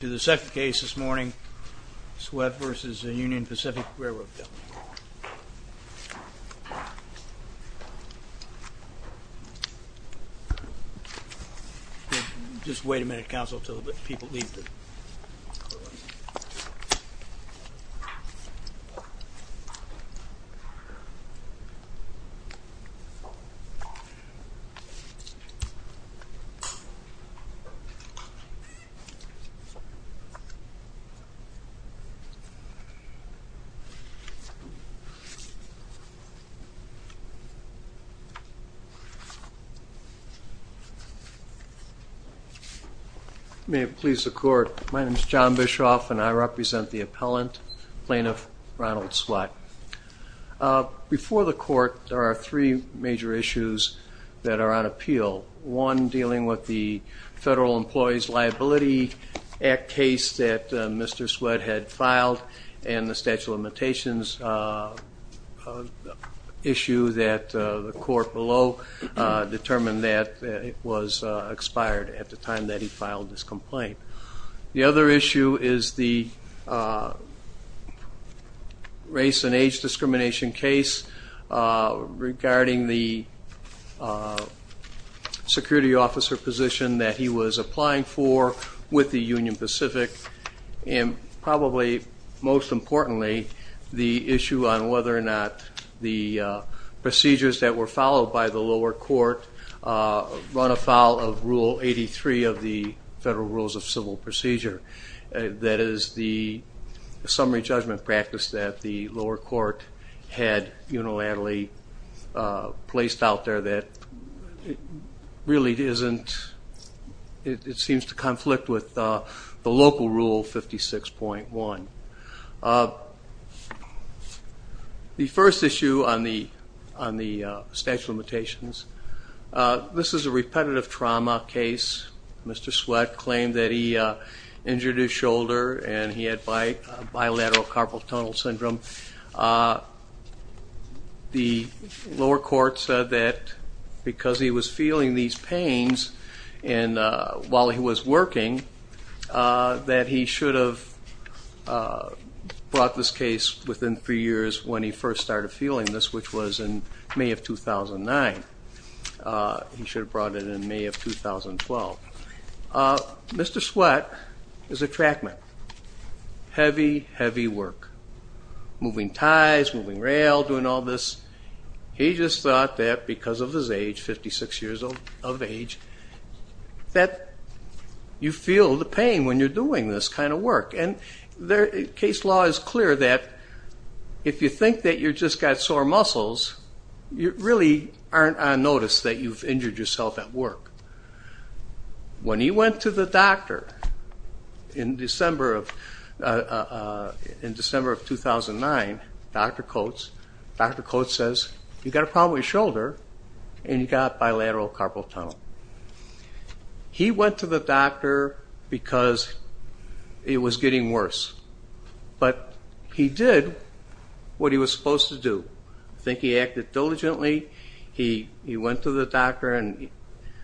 To the second case this morning, Sweatt v. Union Pacific Railroad Company. Just wait a minute, counsel, until the people leave. May it please the court, my name is John Bischoff and I represent the appellant, plaintiff Ronald Sweatt. Before the court there are three major issues that are on appeal. One, dealing with the Federal Employees Liability Act case that Mr. Sweatt had filed, and the statute of limitations issue that the court below determined that it was expired at the time that he filed this complaint. The other issue is the race and age discrimination case regarding the security officer position that he was applying for with the Union Pacific. And probably most importantly, the issue on whether or not the procedures that were followed by the lower court run afoul of Rule 83 of the Federal Rules of Civil Procedure. That is the summary judgment practice that the lower court had unilaterally placed out there that really seems to conflict with the local Rule 56.1. The first issue on the statute of limitations, this is a repetitive trauma case. Mr. Sweatt claimed that he injured his shoulder and he had bilateral carpal tunnel syndrome. The lower court said that because he was feeling these pains while he was working, that he should have brought this case within three years when he first started feeling this, which was in May of 2009. He should have brought it in May of 2012. Mr. Sweatt is a track man. Heavy, heavy work. Moving ties, moving rail, doing all this. He just thought that because of his age, 56 years of age, that you feel the pain when you're doing this kind of work. Case law is clear that if you think that you've just got sore muscles, you really aren't on notice that you've injured yourself at work. When he went to the doctor in December of 2009, Dr. Coates, Dr. Coates says, you've got a problem with your shoulder and you've got bilateral carpal tunnel. He went to the doctor because it was getting worse, but he did what he was supposed to do. I think he acted diligently. He went to the doctor and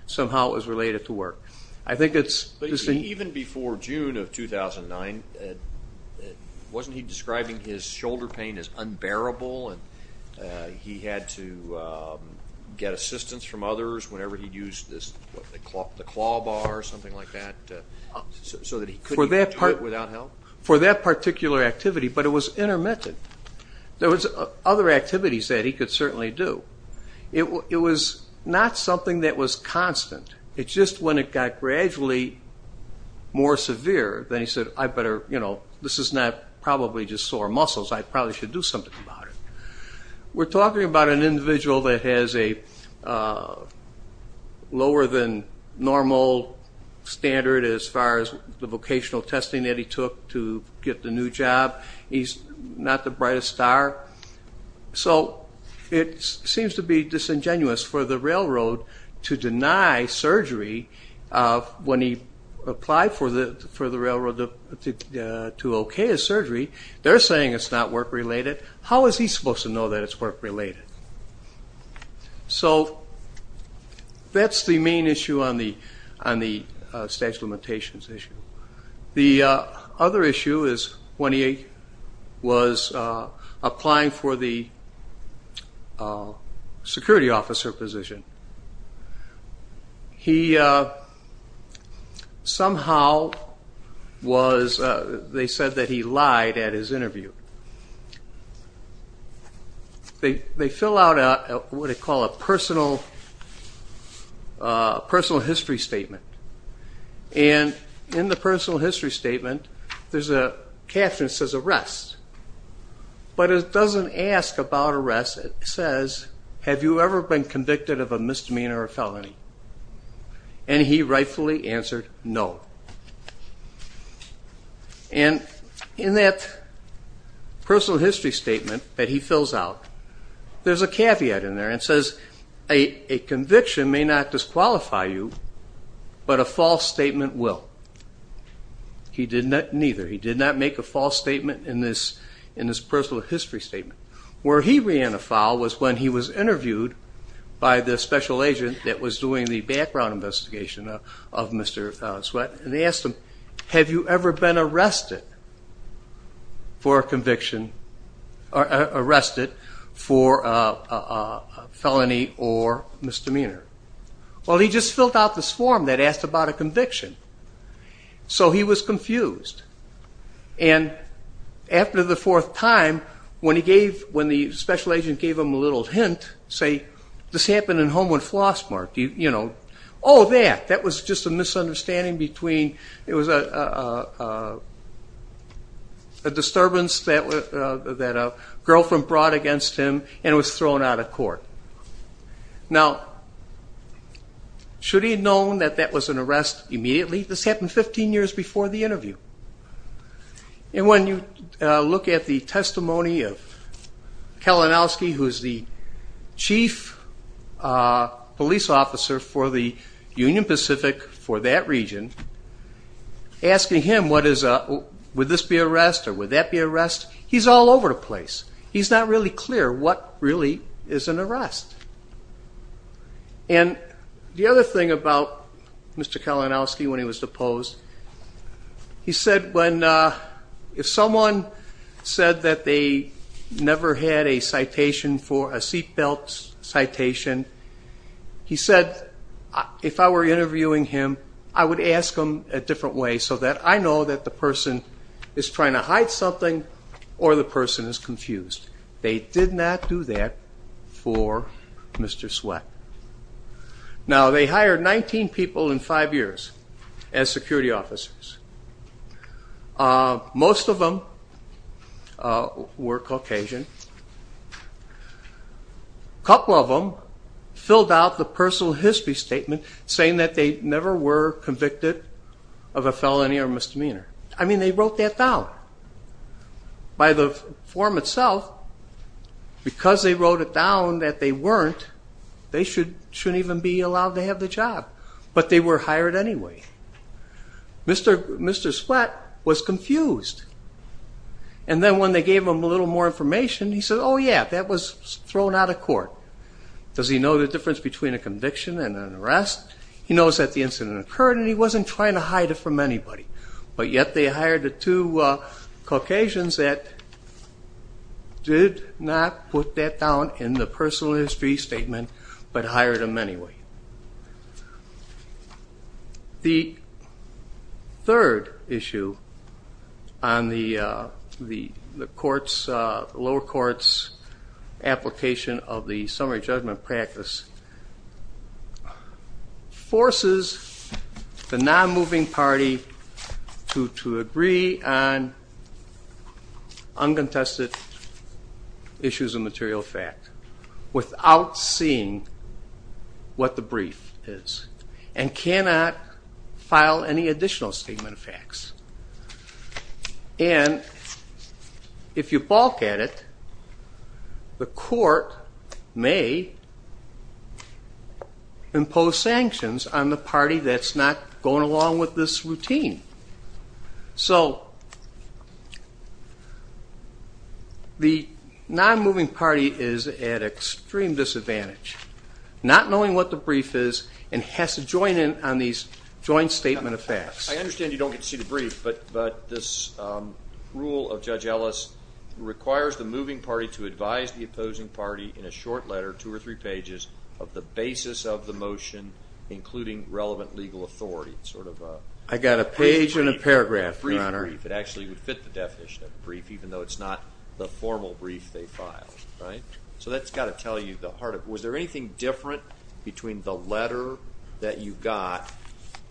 somehow it was related to work. I think it's interesting. Even before June of 2009, wasn't he describing his shoulder pain as unbearable and he had to get assistance from others whenever he used the claw bar or something like that so that he couldn't do it without help? For that particular activity, but it was intermittent. There was other activities that he could certainly do. It was not something that was constant. It's just when it got gradually more severe, then he said, this is not probably just sore muscles. I probably should do something about it. We're talking about an individual that has a lower than normal standard as far as the vocational testing that he took to get the new job. He's not the brightest star. It seems to be disingenuous for the railroad to deny surgery when he applied for the railroad to okay his surgery. They're saying it's not work-related. How is he supposed to know that it's work-related? That's the main issue on the statute of limitations issue. The other issue is when he was applying for the security officer position. Somehow they said that he lied at his interview. They fill out what they call a personal history statement. In the personal history statement, there's a caption that says arrest. It doesn't ask about arrest. It says, have you ever been convicted of a misdemeanor or felony? He rightfully answered no. In that personal history statement that he fills out, there's a caveat in there. It says a conviction may not disqualify you, but a false statement will. He did neither. He did not make a false statement in this personal history statement. Where he ran afoul was when he was interviewed by the special agent that was doing the background investigation of Mr. Sweat. They asked him, have you ever been arrested for a felony or misdemeanor? He just filled out this form that asked about a conviction. He was confused. After the fourth time, when the special agent gave him a little hint, say, this happened in Homewood Flossmark. Oh, that. That was just a misunderstanding. It was a disturbance that a girlfriend brought against him, and it was thrown out of court. Now, should he have known that that was an arrest immediately? This happened 15 years before the interview. And when you look at the testimony of Kalinowski, who is the chief police officer for the Union Pacific, for that region, asking him would this be arrest or would that be arrest, he's all over the place. He's not really clear what really is an arrest. And the other thing about Mr. Kalinowski, when he was deposed, he said when if someone said that they never had a citation for a seatbelt citation, he said, if I were interviewing him, I would ask him a different way so that I know that the person is trying to hide something or the person is confused. They did not do that for Mr. Sweat. Now, they hired 19 people in five years as security officers. Most of them were Caucasian. A couple of them filled out the personal history statement saying that they never were convicted of a felony or misdemeanor. I mean, they wrote that down. By the form itself, because they wrote it down that they weren't, they shouldn't even be allowed to have the job. But they were hired anyway. Mr. Sweat was confused. And then when they gave him a little more information, he said, oh, yeah, that was thrown out of court. Does he know the difference between a conviction and an arrest? He knows that the incident occurred and he wasn't trying to hide it from anybody. But yet they hired the two Caucasians that did not put that down in the personal history statement but hired them anyway. The third issue on the lower court's application of the summary judgment practice forces the non-moving party to agree on uncontested issues of material fact without seeing what the brief is and cannot file any additional statement of facts. And if you balk at it, the court may impose sanctions on the party that's not going along with this routine. So the non-moving party is at extreme disadvantage, not knowing what the brief is and has to join in on these joint statement of facts. I understand you don't get to see the brief, but this rule of Judge Ellis requires the moving party to advise the opposing party in a short letter, two or three pages, of the basis of the motion, including relevant legal authority. I got a page and a paragraph, Your Honor. It actually would fit the definition of a brief, even though it's not the formal brief they filed. So that's got to tell you the heart of it. Was there anything different between the letter that you got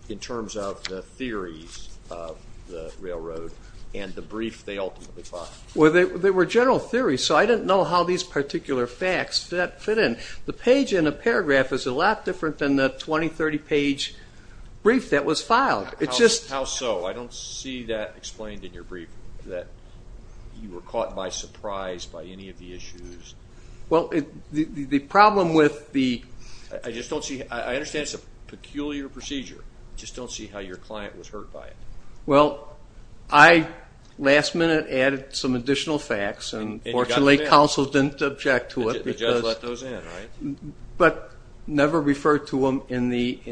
in terms of the theories of the railroad and the brief they ultimately filed? Well, they were general theories, so I didn't know how these particular facts fit in. The page and the paragraph is a lot different than the 20, 30-page brief that was filed. How so? I don't see that explained in your brief, that you were caught by surprise by any of the issues. Well, the problem with the – I just don't see – I understand it's a peculiar procedure. I just don't see how your client was hurt by it. Well, I, last minute, added some additional facts, and fortunately, counsel didn't object to it. The judge let those in, right? But never referred to them in the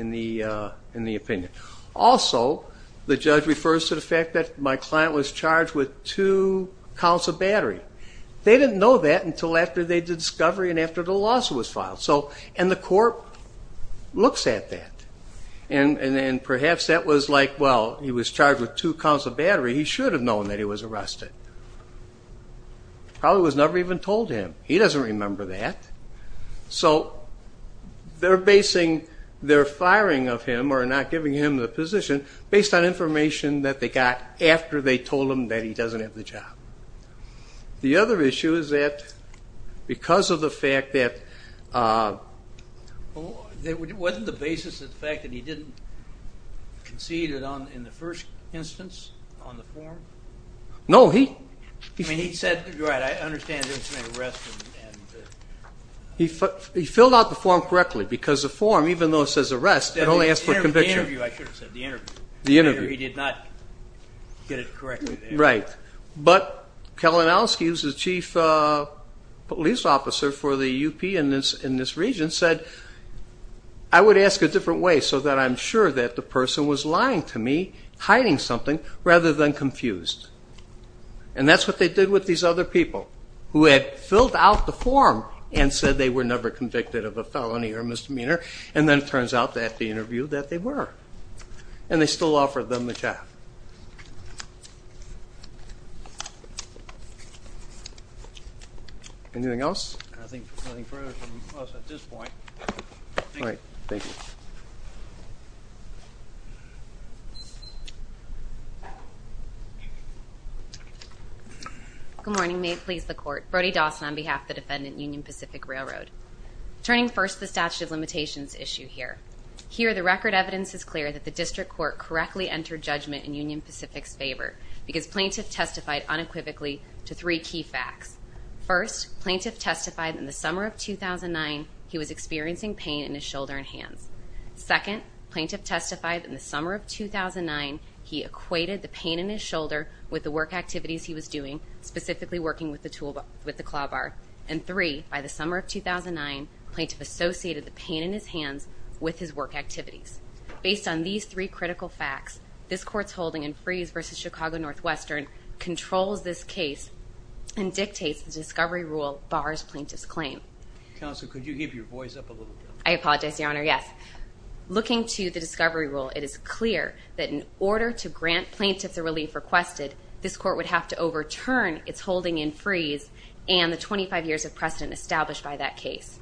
opinion. Also, the judge refers to the fact that my client was charged with two counts of battery. They didn't know that until after they did discovery and after the lawsuit was filed. And the court looks at that, and perhaps that was like, well, he was charged with two counts of battery. He should have known that he was arrested. Probably was never even told to him. He doesn't remember that. So they're basing their firing of him or not giving him the position based on information that they got after they told him that he doesn't have the job. The other issue is that because of the fact that – Wasn't the basis the fact that he didn't concede in the first instance on the form? No, he – You're right. I understand there was an arrest. He filled out the form correctly because the form, even though it says arrest, it only asks for conviction. The interview, I should have said, the interview. The interview. He did not get it correctly there. Right. But Kalinowski, who's the chief police officer for the UP in this region, said, I would ask a different way so that I'm sure that the person was lying to me, hiding something, rather than confused. And that's what they did with these other people who had filled out the form and said they were never convicted of a felony or misdemeanor. And then it turns out that, at the interview, that they were. And they still offered them the job. Anything else? I think there's nothing further from us at this point. All right. Thank you. Good morning. May it please the Court. Brody Dawson on behalf of the defendant, Union Pacific Railroad. Turning first to the statute of limitations issue here. Here, the record evidence is clear that the district court correctly entered judgment in Union Pacific's favor because plaintiff testified unequivocally to three key facts. First, plaintiff testified in the summer of 2009 he was experiencing pain in his shoulder and hands. Second, plaintiff testified in the summer of 2009 he equated the pain in his shoulder with the work activities he was doing, specifically working with the claw bar. And three, by the summer of 2009, plaintiff associated the pain in his hands with his work activities. Based on these three critical facts, this Court's holding in Freeze v. Chicago Northwestern controls this case and dictates the discovery rule bars plaintiff's claim. Counsel, could you give your voice up a little bit? I apologize, Your Honor. Yes. Looking to the discovery rule, it is clear that in order to grant plaintiff the relief requested, this Court would have to overturn its holding in Freeze and the 25 years of precedent established by that case.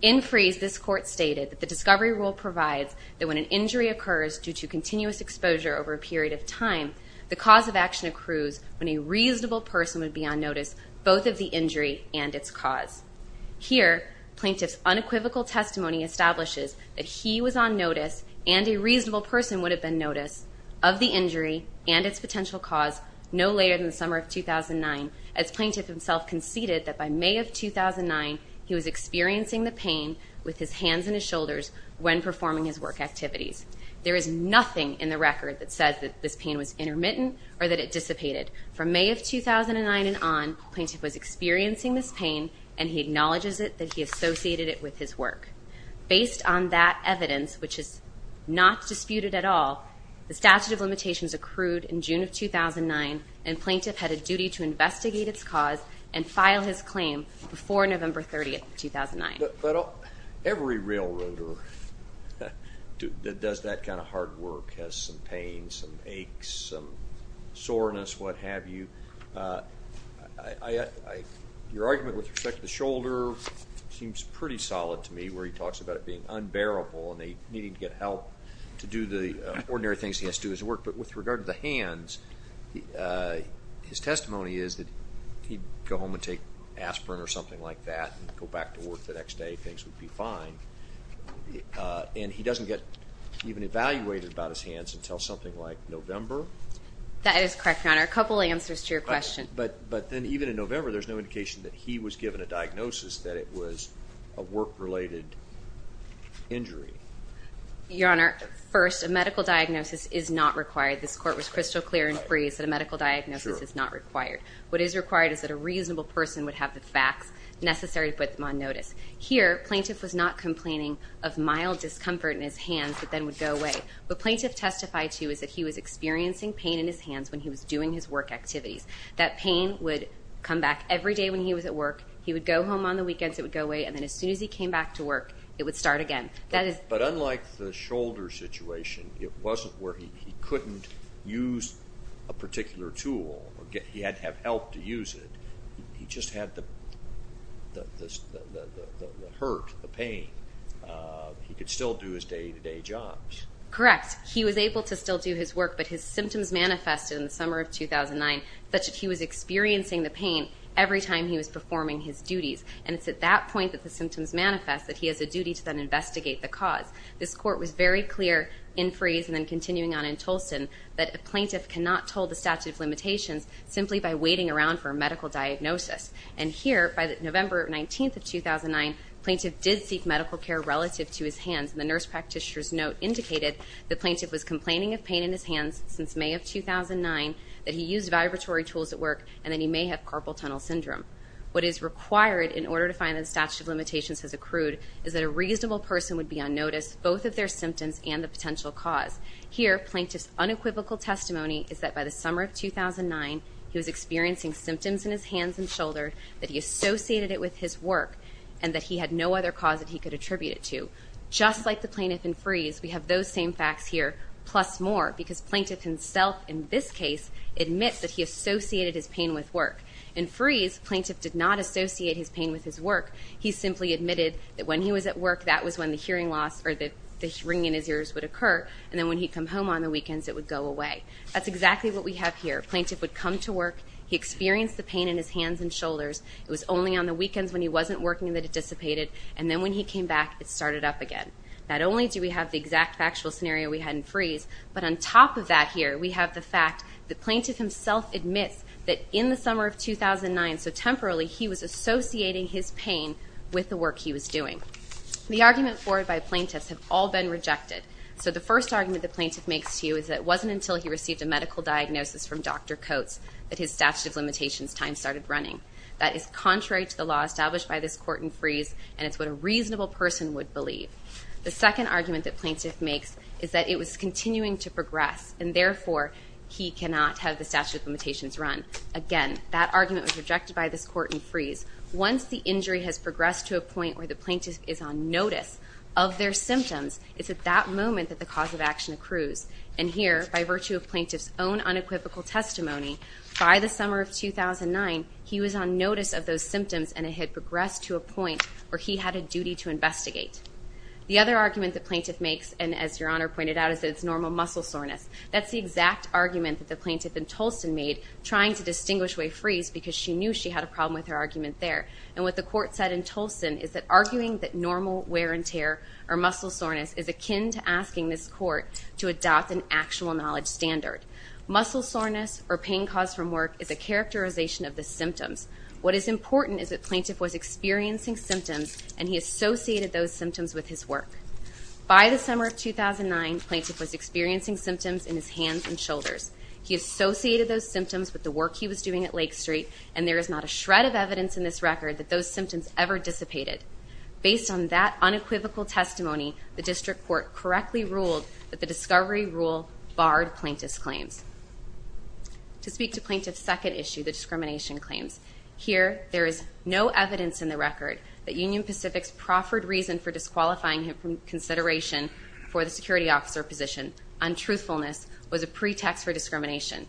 In Freeze, this Court stated that the discovery rule provides that when an injury occurs due to continuous exposure over a period of time, the cause of action accrues when a reasonable person would be on notice both of the injury and its cause. Here, plaintiff's unequivocal testimony establishes that he was on notice and a reasonable person would have been noticed of the injury and its potential cause no later than the summer of 2009 as plaintiff himself conceded that by May of 2009 he was experiencing the pain with his hands and his shoulders when performing his work activities. There is nothing in the record that says that this pain was intermittent or that it dissipated. From May of 2009 and on, plaintiff was experiencing this pain and he acknowledges it that he associated it with his work. Based on that evidence, which is not disputed at all, the statute of limitations accrued in June of 2009 and plaintiff had a duty to investigate its cause and file his claim before November 30, 2009. Every railroader that does that kind of hard work has some pain, some aches, some soreness, what have you. Your argument with respect to the shoulder seems pretty solid to me where he talks about it being unbearable and they needed to get help to do the ordinary things he has to do his work. But with regard to the hands, his testimony is that he'd go home and take aspirin or something like that and go back to work the next day, things would be fine. And he doesn't get even evaluated about his hands until something like November? That is correct, Your Honor. A couple answers to your question. But then even in November there's no indication that he was given a diagnosis that it was a work-related injury. Your Honor, first, a medical diagnosis is not required. This court was crystal clear and free that a medical diagnosis is not required. What is required is that a reasonable person would have the facts necessary to put them on notice. Here, plaintiff was not complaining of mild discomfort in his hands that then would go away. What plaintiff testified to is that he was experiencing pain in his hands when he was doing his work activities. That pain would come back every day when he was at work. He would go home on the weekends, it would go away, and then as soon as he came back to work, it would start again. But unlike the shoulder situation, it wasn't where he couldn't use a particular tool. He had to have help to use it. He just had the hurt, the pain. He could still do his day-to-day jobs. Correct. He was able to still do his work. But his symptoms manifested in the summer of 2009 that he was experiencing the pain every time he was performing his duties. And it's at that point that the symptoms manifest that he has a duty to then investigate the cause. This court was very clear in Freeze and then continuing on in Tolson that a plaintiff cannot toll the statute of limitations simply by waiting around for a medical diagnosis. And here, by November 19th of 2009, plaintiff did seek medical care relative to his hands. And the nurse practitioner's note indicated the plaintiff was complaining of pain in his hands since May of 2009, that he used vibratory tools at work, and that he may have carpal tunnel syndrome. What is required in order to find that the statute of limitations has accrued is that a reasonable person would be unnoticed, both of their symptoms and the potential cause. Here, plaintiff's unequivocal testimony is that by the summer of 2009, he was experiencing symptoms in his hands and shoulder, that he associated it with his work, and that he had no other cause that he could attribute it to. Just like the plaintiff in Freeze, we have those same facts here, plus more, because plaintiff himself, in this case, admits that he associated his pain with work. In Freeze, plaintiff did not associate his pain with his work. He simply admitted that when he was at work, that was when the hearing loss or the ringing in his ears would occur. And then when he'd come home on the weekends, it would go away. That's exactly what we have here. Plaintiff would come to work, he experienced the pain in his hands and shoulders, it was only on the weekends when he wasn't working that it dissipated, and then when he came back, it started up again. Not only do we have the exact factual scenario we had in Freeze, but on top of that here, we have the fact that plaintiff himself admits that in the summer of 2009, so temporarily, he was associating his pain with the work he was doing. The arguments forward by plaintiffs have all been rejected. So the first argument the plaintiff makes to you is that it wasn't until he received a medical diagnosis from Dr. Coates that his statute of limitations time started running. That is contrary to the law established by this court in Freeze, and it's what a reasonable person would believe. The second argument that plaintiff makes is that it was continuing to progress, and therefore, he cannot have the statute of limitations run. Again, that argument was rejected by this court in Freeze. Once the injury has progressed to a point where the plaintiff is on notice of their symptoms, it's at that moment that the cause of action accrues. And here, by virtue of plaintiff's own unequivocal testimony, by the summer of 2009, he was on notice of those symptoms and it had progressed to a point where he had a duty to investigate. The other argument the plaintiff makes, and as Your Honor pointed out, is that it's normal muscle soreness. That's the exact argument that the plaintiff in Tolson made trying to distinguish way Freeze because she knew she had a problem with her argument there. And what the court said in Tolson is that arguing that normal wear and tear or muscle soreness is akin to asking this court to adopt an actual knowledge standard. Muscle soreness or pain caused from work is a characterization of the symptoms. What is important is that plaintiff was experiencing symptoms and he associated those symptoms with his work. By the summer of 2009, plaintiff was experiencing symptoms in his hands and shoulders. He associated those symptoms with the work he was doing at Lake Street, and there is not a shred of evidence in this record that those symptoms ever dissipated. Based on that unequivocal testimony, the district court correctly ruled that the discovery rule barred plaintiff's claims. To speak to plaintiff's second issue, the discrimination claims, here there is no evidence in the record that Union Pacific's proffered reason for disqualifying him from consideration for the security officer position on truthfulness was a pretext for discrimination.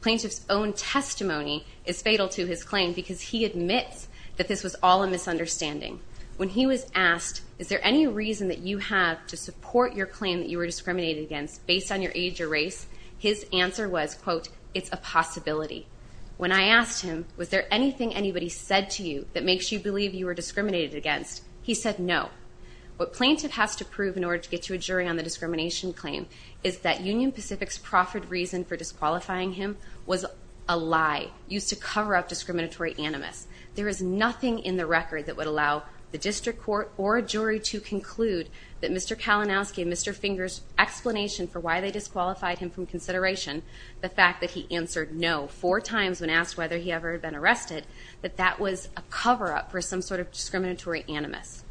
Plaintiff's own testimony is fatal to his claim because he admits that this was all a misunderstanding. When he was asked, is there any reason that you have to support your claim that you were discriminated against based on your age or race, his answer was, quote, it's a possibility. When I asked him, was there anything anybody said to you that makes you believe you were discriminated against, he said no. What plaintiff has to prove in order to get you a jury on the discrimination claim is that Union Pacific's proffered reason for disqualifying him was a lie, used to cover up discriminatory animus. There is nothing in the record that would allow the district court or a jury to conclude that Mr. Kalinowski and Mr. Finger's explanation for why they disqualified him from consideration, the fact that he answered no four times when asked whether he ever had been arrested, that that was a cover-up for some sort of discriminatory animus.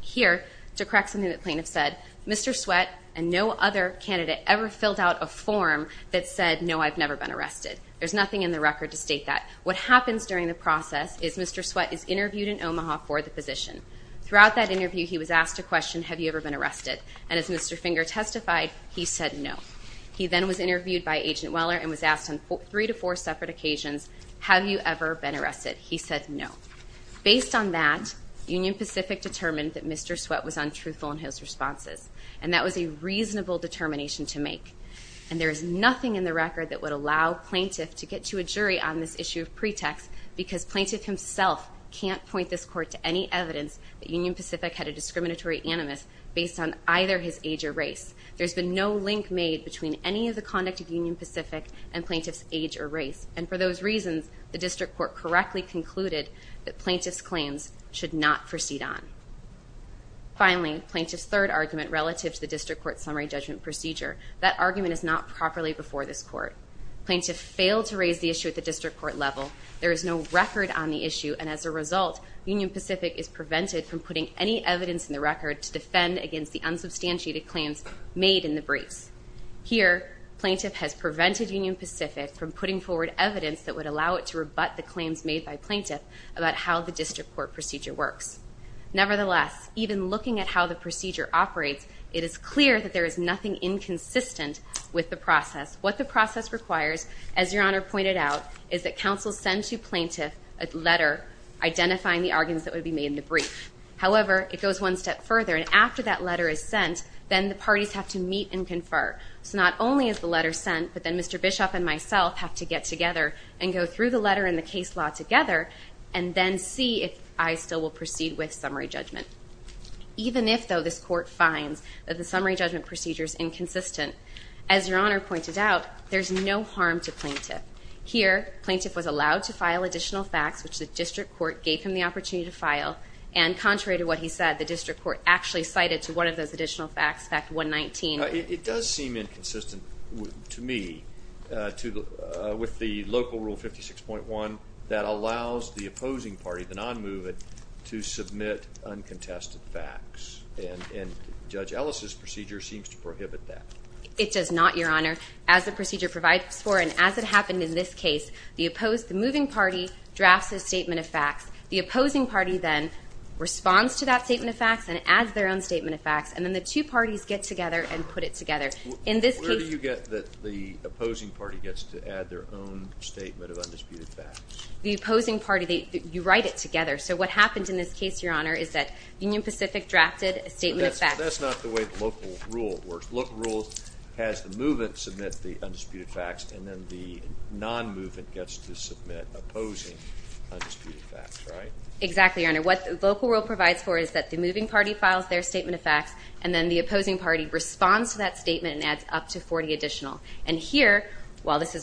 Here, to correct something that plaintiff said, Mr. Sweat and no other candidate ever filled out a form that said, no, I've never been arrested. There's nothing in the record to state that. What happens during the process is Mr. Sweat is interviewed in Omaha for the position. Throughout that interview, he was asked a question, have you ever been arrested? And as Mr. Finger testified, he said no. He then was interviewed by Agent Weller and was asked on three to four separate occasions, have you ever been arrested? He said no. Based on that, Union Pacific determined that Mr. Sweat was untruthful in his responses, and that was a reasonable determination to make. And there is nothing in the record that would allow plaintiff to get to a jury on this issue of pretext because plaintiff himself can't point this court to any evidence that Union Pacific had a discriminatory animus based on either his age or race. There's been no link made between any of the conduct of Union Pacific and plaintiff's age or race. And for those reasons, the district court correctly concluded that plaintiff's claims should not proceed on. Finally, plaintiff's third argument relative to the district court's summary judgment procedure, that argument is not properly before this court. Plaintiff failed to raise the issue at the district court level. There is no record on the issue, and as a result, Union Pacific is prevented from putting any evidence in the record to defend against the unsubstantiated claims made in the briefs. Here, plaintiff has prevented Union Pacific from putting forward evidence that would allow it to rebut the claims made by plaintiff about how the district court procedure works. Nevertheless, even looking at how the procedure operates, it is clear that there is nothing inconsistent with the process. What the process requires, as Your Honor pointed out, is that counsel send to plaintiff a letter identifying the arguments that would be made in the brief. However, it goes one step further, and after that letter is sent, then the parties have to meet and confer. So not only is the letter sent, but then Mr. Bishop and myself have to get together and go through the letter and the case law together, and then see if I still will proceed with summary judgment. Even if, though, this court finds that the summary judgment procedure is inconsistent, as Your Honor pointed out, there is no harm to plaintiff. Here, plaintiff was allowed to file additional facts, which the district court gave him the opportunity to file, and contrary to what he said, the district court actually cited to one of those additional facts, Fact 119. It does seem inconsistent to me with the local Rule 56.1 that allows the opposing party, the non-movement, to submit uncontested facts, and Judge Ellis' procedure seems to prohibit that. It does not, Your Honor. As the procedure provides for and as it happened in this case, the moving party drafts a statement of facts. The opposing party then responds to that statement of facts and adds their own statement of facts, and then the two parties get together and put it together. Where do you get that the opposing party gets to add their own statement of undisputed facts? The opposing party, you write it together. So what happens in this case, Your Honor, is that Union Pacific drafted a statement of facts. But that's not the way the local rule works. Local rule has the movement submit the undisputed facts, and then the non-movement gets to submit opposing undisputed facts, right? Exactly, Your Honor. What local rule provides for is that the moving party files their statement of facts, and then the opposing party responds to that statement and adds up to 40 additional. is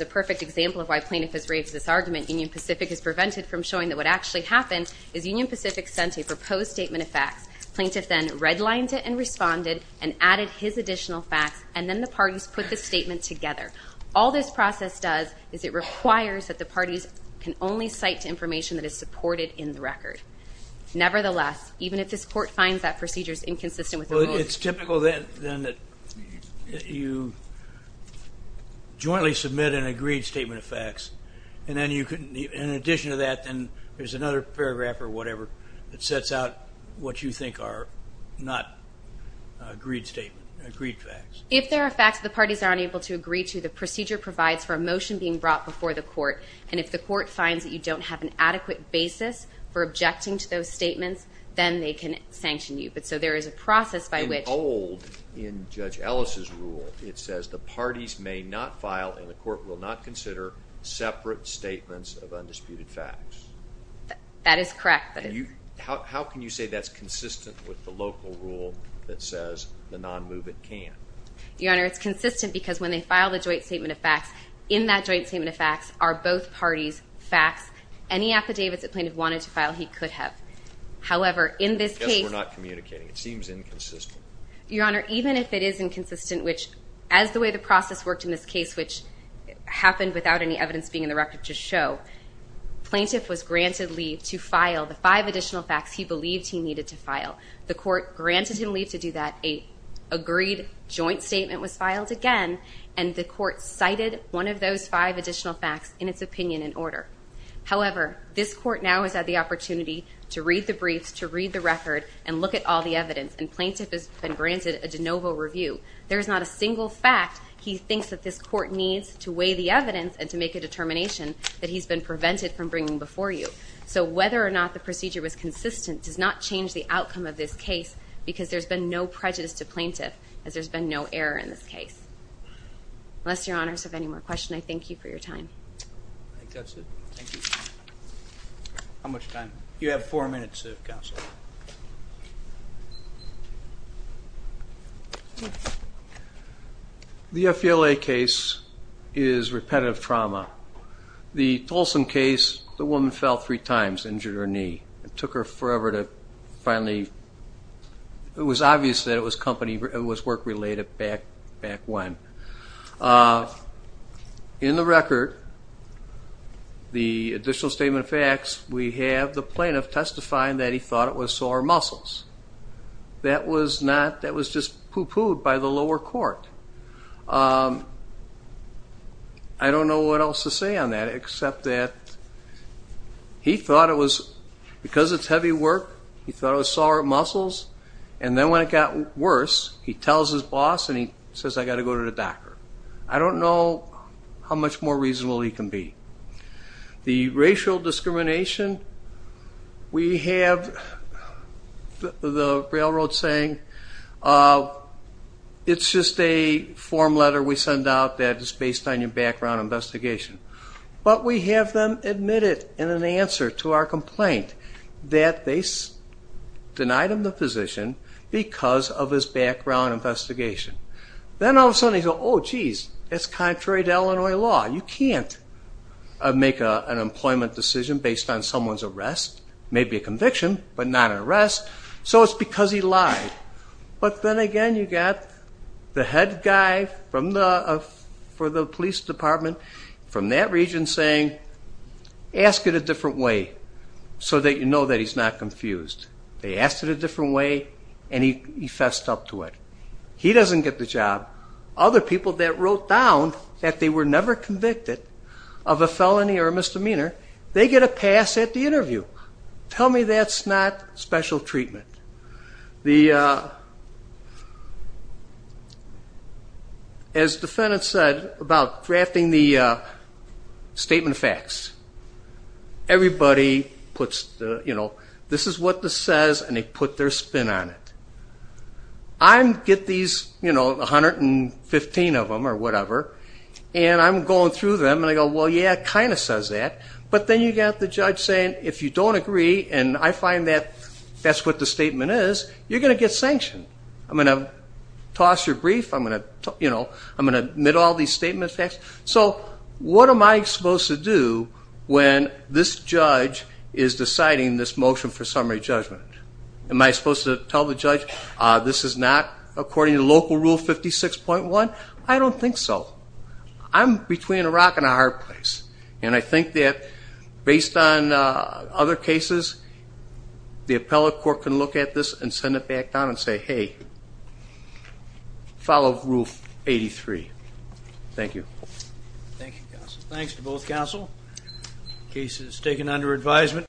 prevented from showing that what actually happened is Union Pacific sent a proposed statement of facts. Plaintiff then redlined it and responded and added his additional facts, and then the parties put the statement together. All this process does is it requires that the parties can only cite information that is supported in the record. Nevertheless, even if this court finds that procedure is inconsistent with the rules. Well, it's typical then that you jointly submit an agreed statement of facts, and then you can, in addition to that, then there's another paragraph or whatever that sets out what you think are not agreed statements, agreed facts. If there are facts the parties are unable to agree to, the procedure provides for a motion being brought before the court, and if the court finds that you don't have an adequate basis for objecting to those statements, then they can sanction you. But so there is a process by which. In Judge Ellis's rule, it says the parties may not file, and the court will not consider separate statements of undisputed facts. That is correct. How can you say that's consistent with the local rule that says the non-movement can? Your Honor, it's consistent because when they file the joint statement of facts, in that joint statement of facts are both parties' facts. Any affidavits that Plaintiff wanted to file, he could have. However, in this case. We're not communicating. It seems inconsistent. Your Honor, even if it is inconsistent, which as the way the process worked in this case, which happened without any evidence being in the record to show, Plaintiff was granted leave to file the five additional facts he believed he needed to file. The court granted him leave to do that. A agreed joint statement was filed again, and the court cited one of those five additional facts in its opinion and order. However, this court now has had the opportunity to read the briefs, to read the record, and look at all the evidence, and Plaintiff has been granted a de novo review. There is not a single fact he thinks that this court needs to weigh the evidence and to make a determination that he's been prevented from bringing before you. So whether or not the procedure was consistent does not change the outcome of this case because there's been no prejudice to Plaintiff as there's been no error in this case. Unless Your Honors have any more questions, I thank you for your time. I think that's it. Thank you. How much time? You have four minutes, Counsel. The FELA case is repetitive trauma. The Tolson case, the woman fell three times, injured her knee. It took her forever to finally, it was obvious that it was work-related back when. In the record, the additional statement of facts, we have the Plaintiff testifying that he thought it was sore muscles. That was just poo-pooed by the lower court. I don't know what else to say on that except that he thought it was, because it's heavy work, he thought it was sore muscles, and then when it got worse, he tells his boss and he says, I've got to go to the doctor. I don't know how much more reasonable he can be. The racial discrimination, we have the railroad saying it's just a form letter we send out that is based on your background investigation. But we have them admit it in an answer to our complaint that they denied him the position because of his background investigation. Then all of a sudden they go, oh, geez, that's contrary to Illinois law. You can't make an employment decision based on someone's arrest, maybe a conviction, but not an arrest, so it's because he lied. But then again you've got the head guy for the police department from that region saying ask it a different way so that you know that he's not confused. They asked it a different way and he fessed up to it. He doesn't get the job. Other people that wrote down that they were never convicted of a felony or a misdemeanor, they get a pass at the interview. Tell me that's not special treatment. As the defendant said about drafting the statement of facts, everybody puts this is what this says and they put their spin on it. I get these 115 of them or whatever, and I'm going through them, and I go, well, yeah, it kind of says that. But then you've got the judge saying if you don't agree, and I find that that's what the statement is, you're going to get sanctioned. I'm going to toss your brief. I'm going to admit all these statement of facts. So what am I supposed to do when this judge is deciding this motion for summary judgment? Am I supposed to tell the judge this is not according to local rule 56.1? I don't think so. I'm between a rock and a hard place, and I think that based on other cases the appellate court can look at this and send it back down and say, hey, follow rule 83. Thank you. Thank you, counsel. Thanks to both counsel. Case is taken under advisement.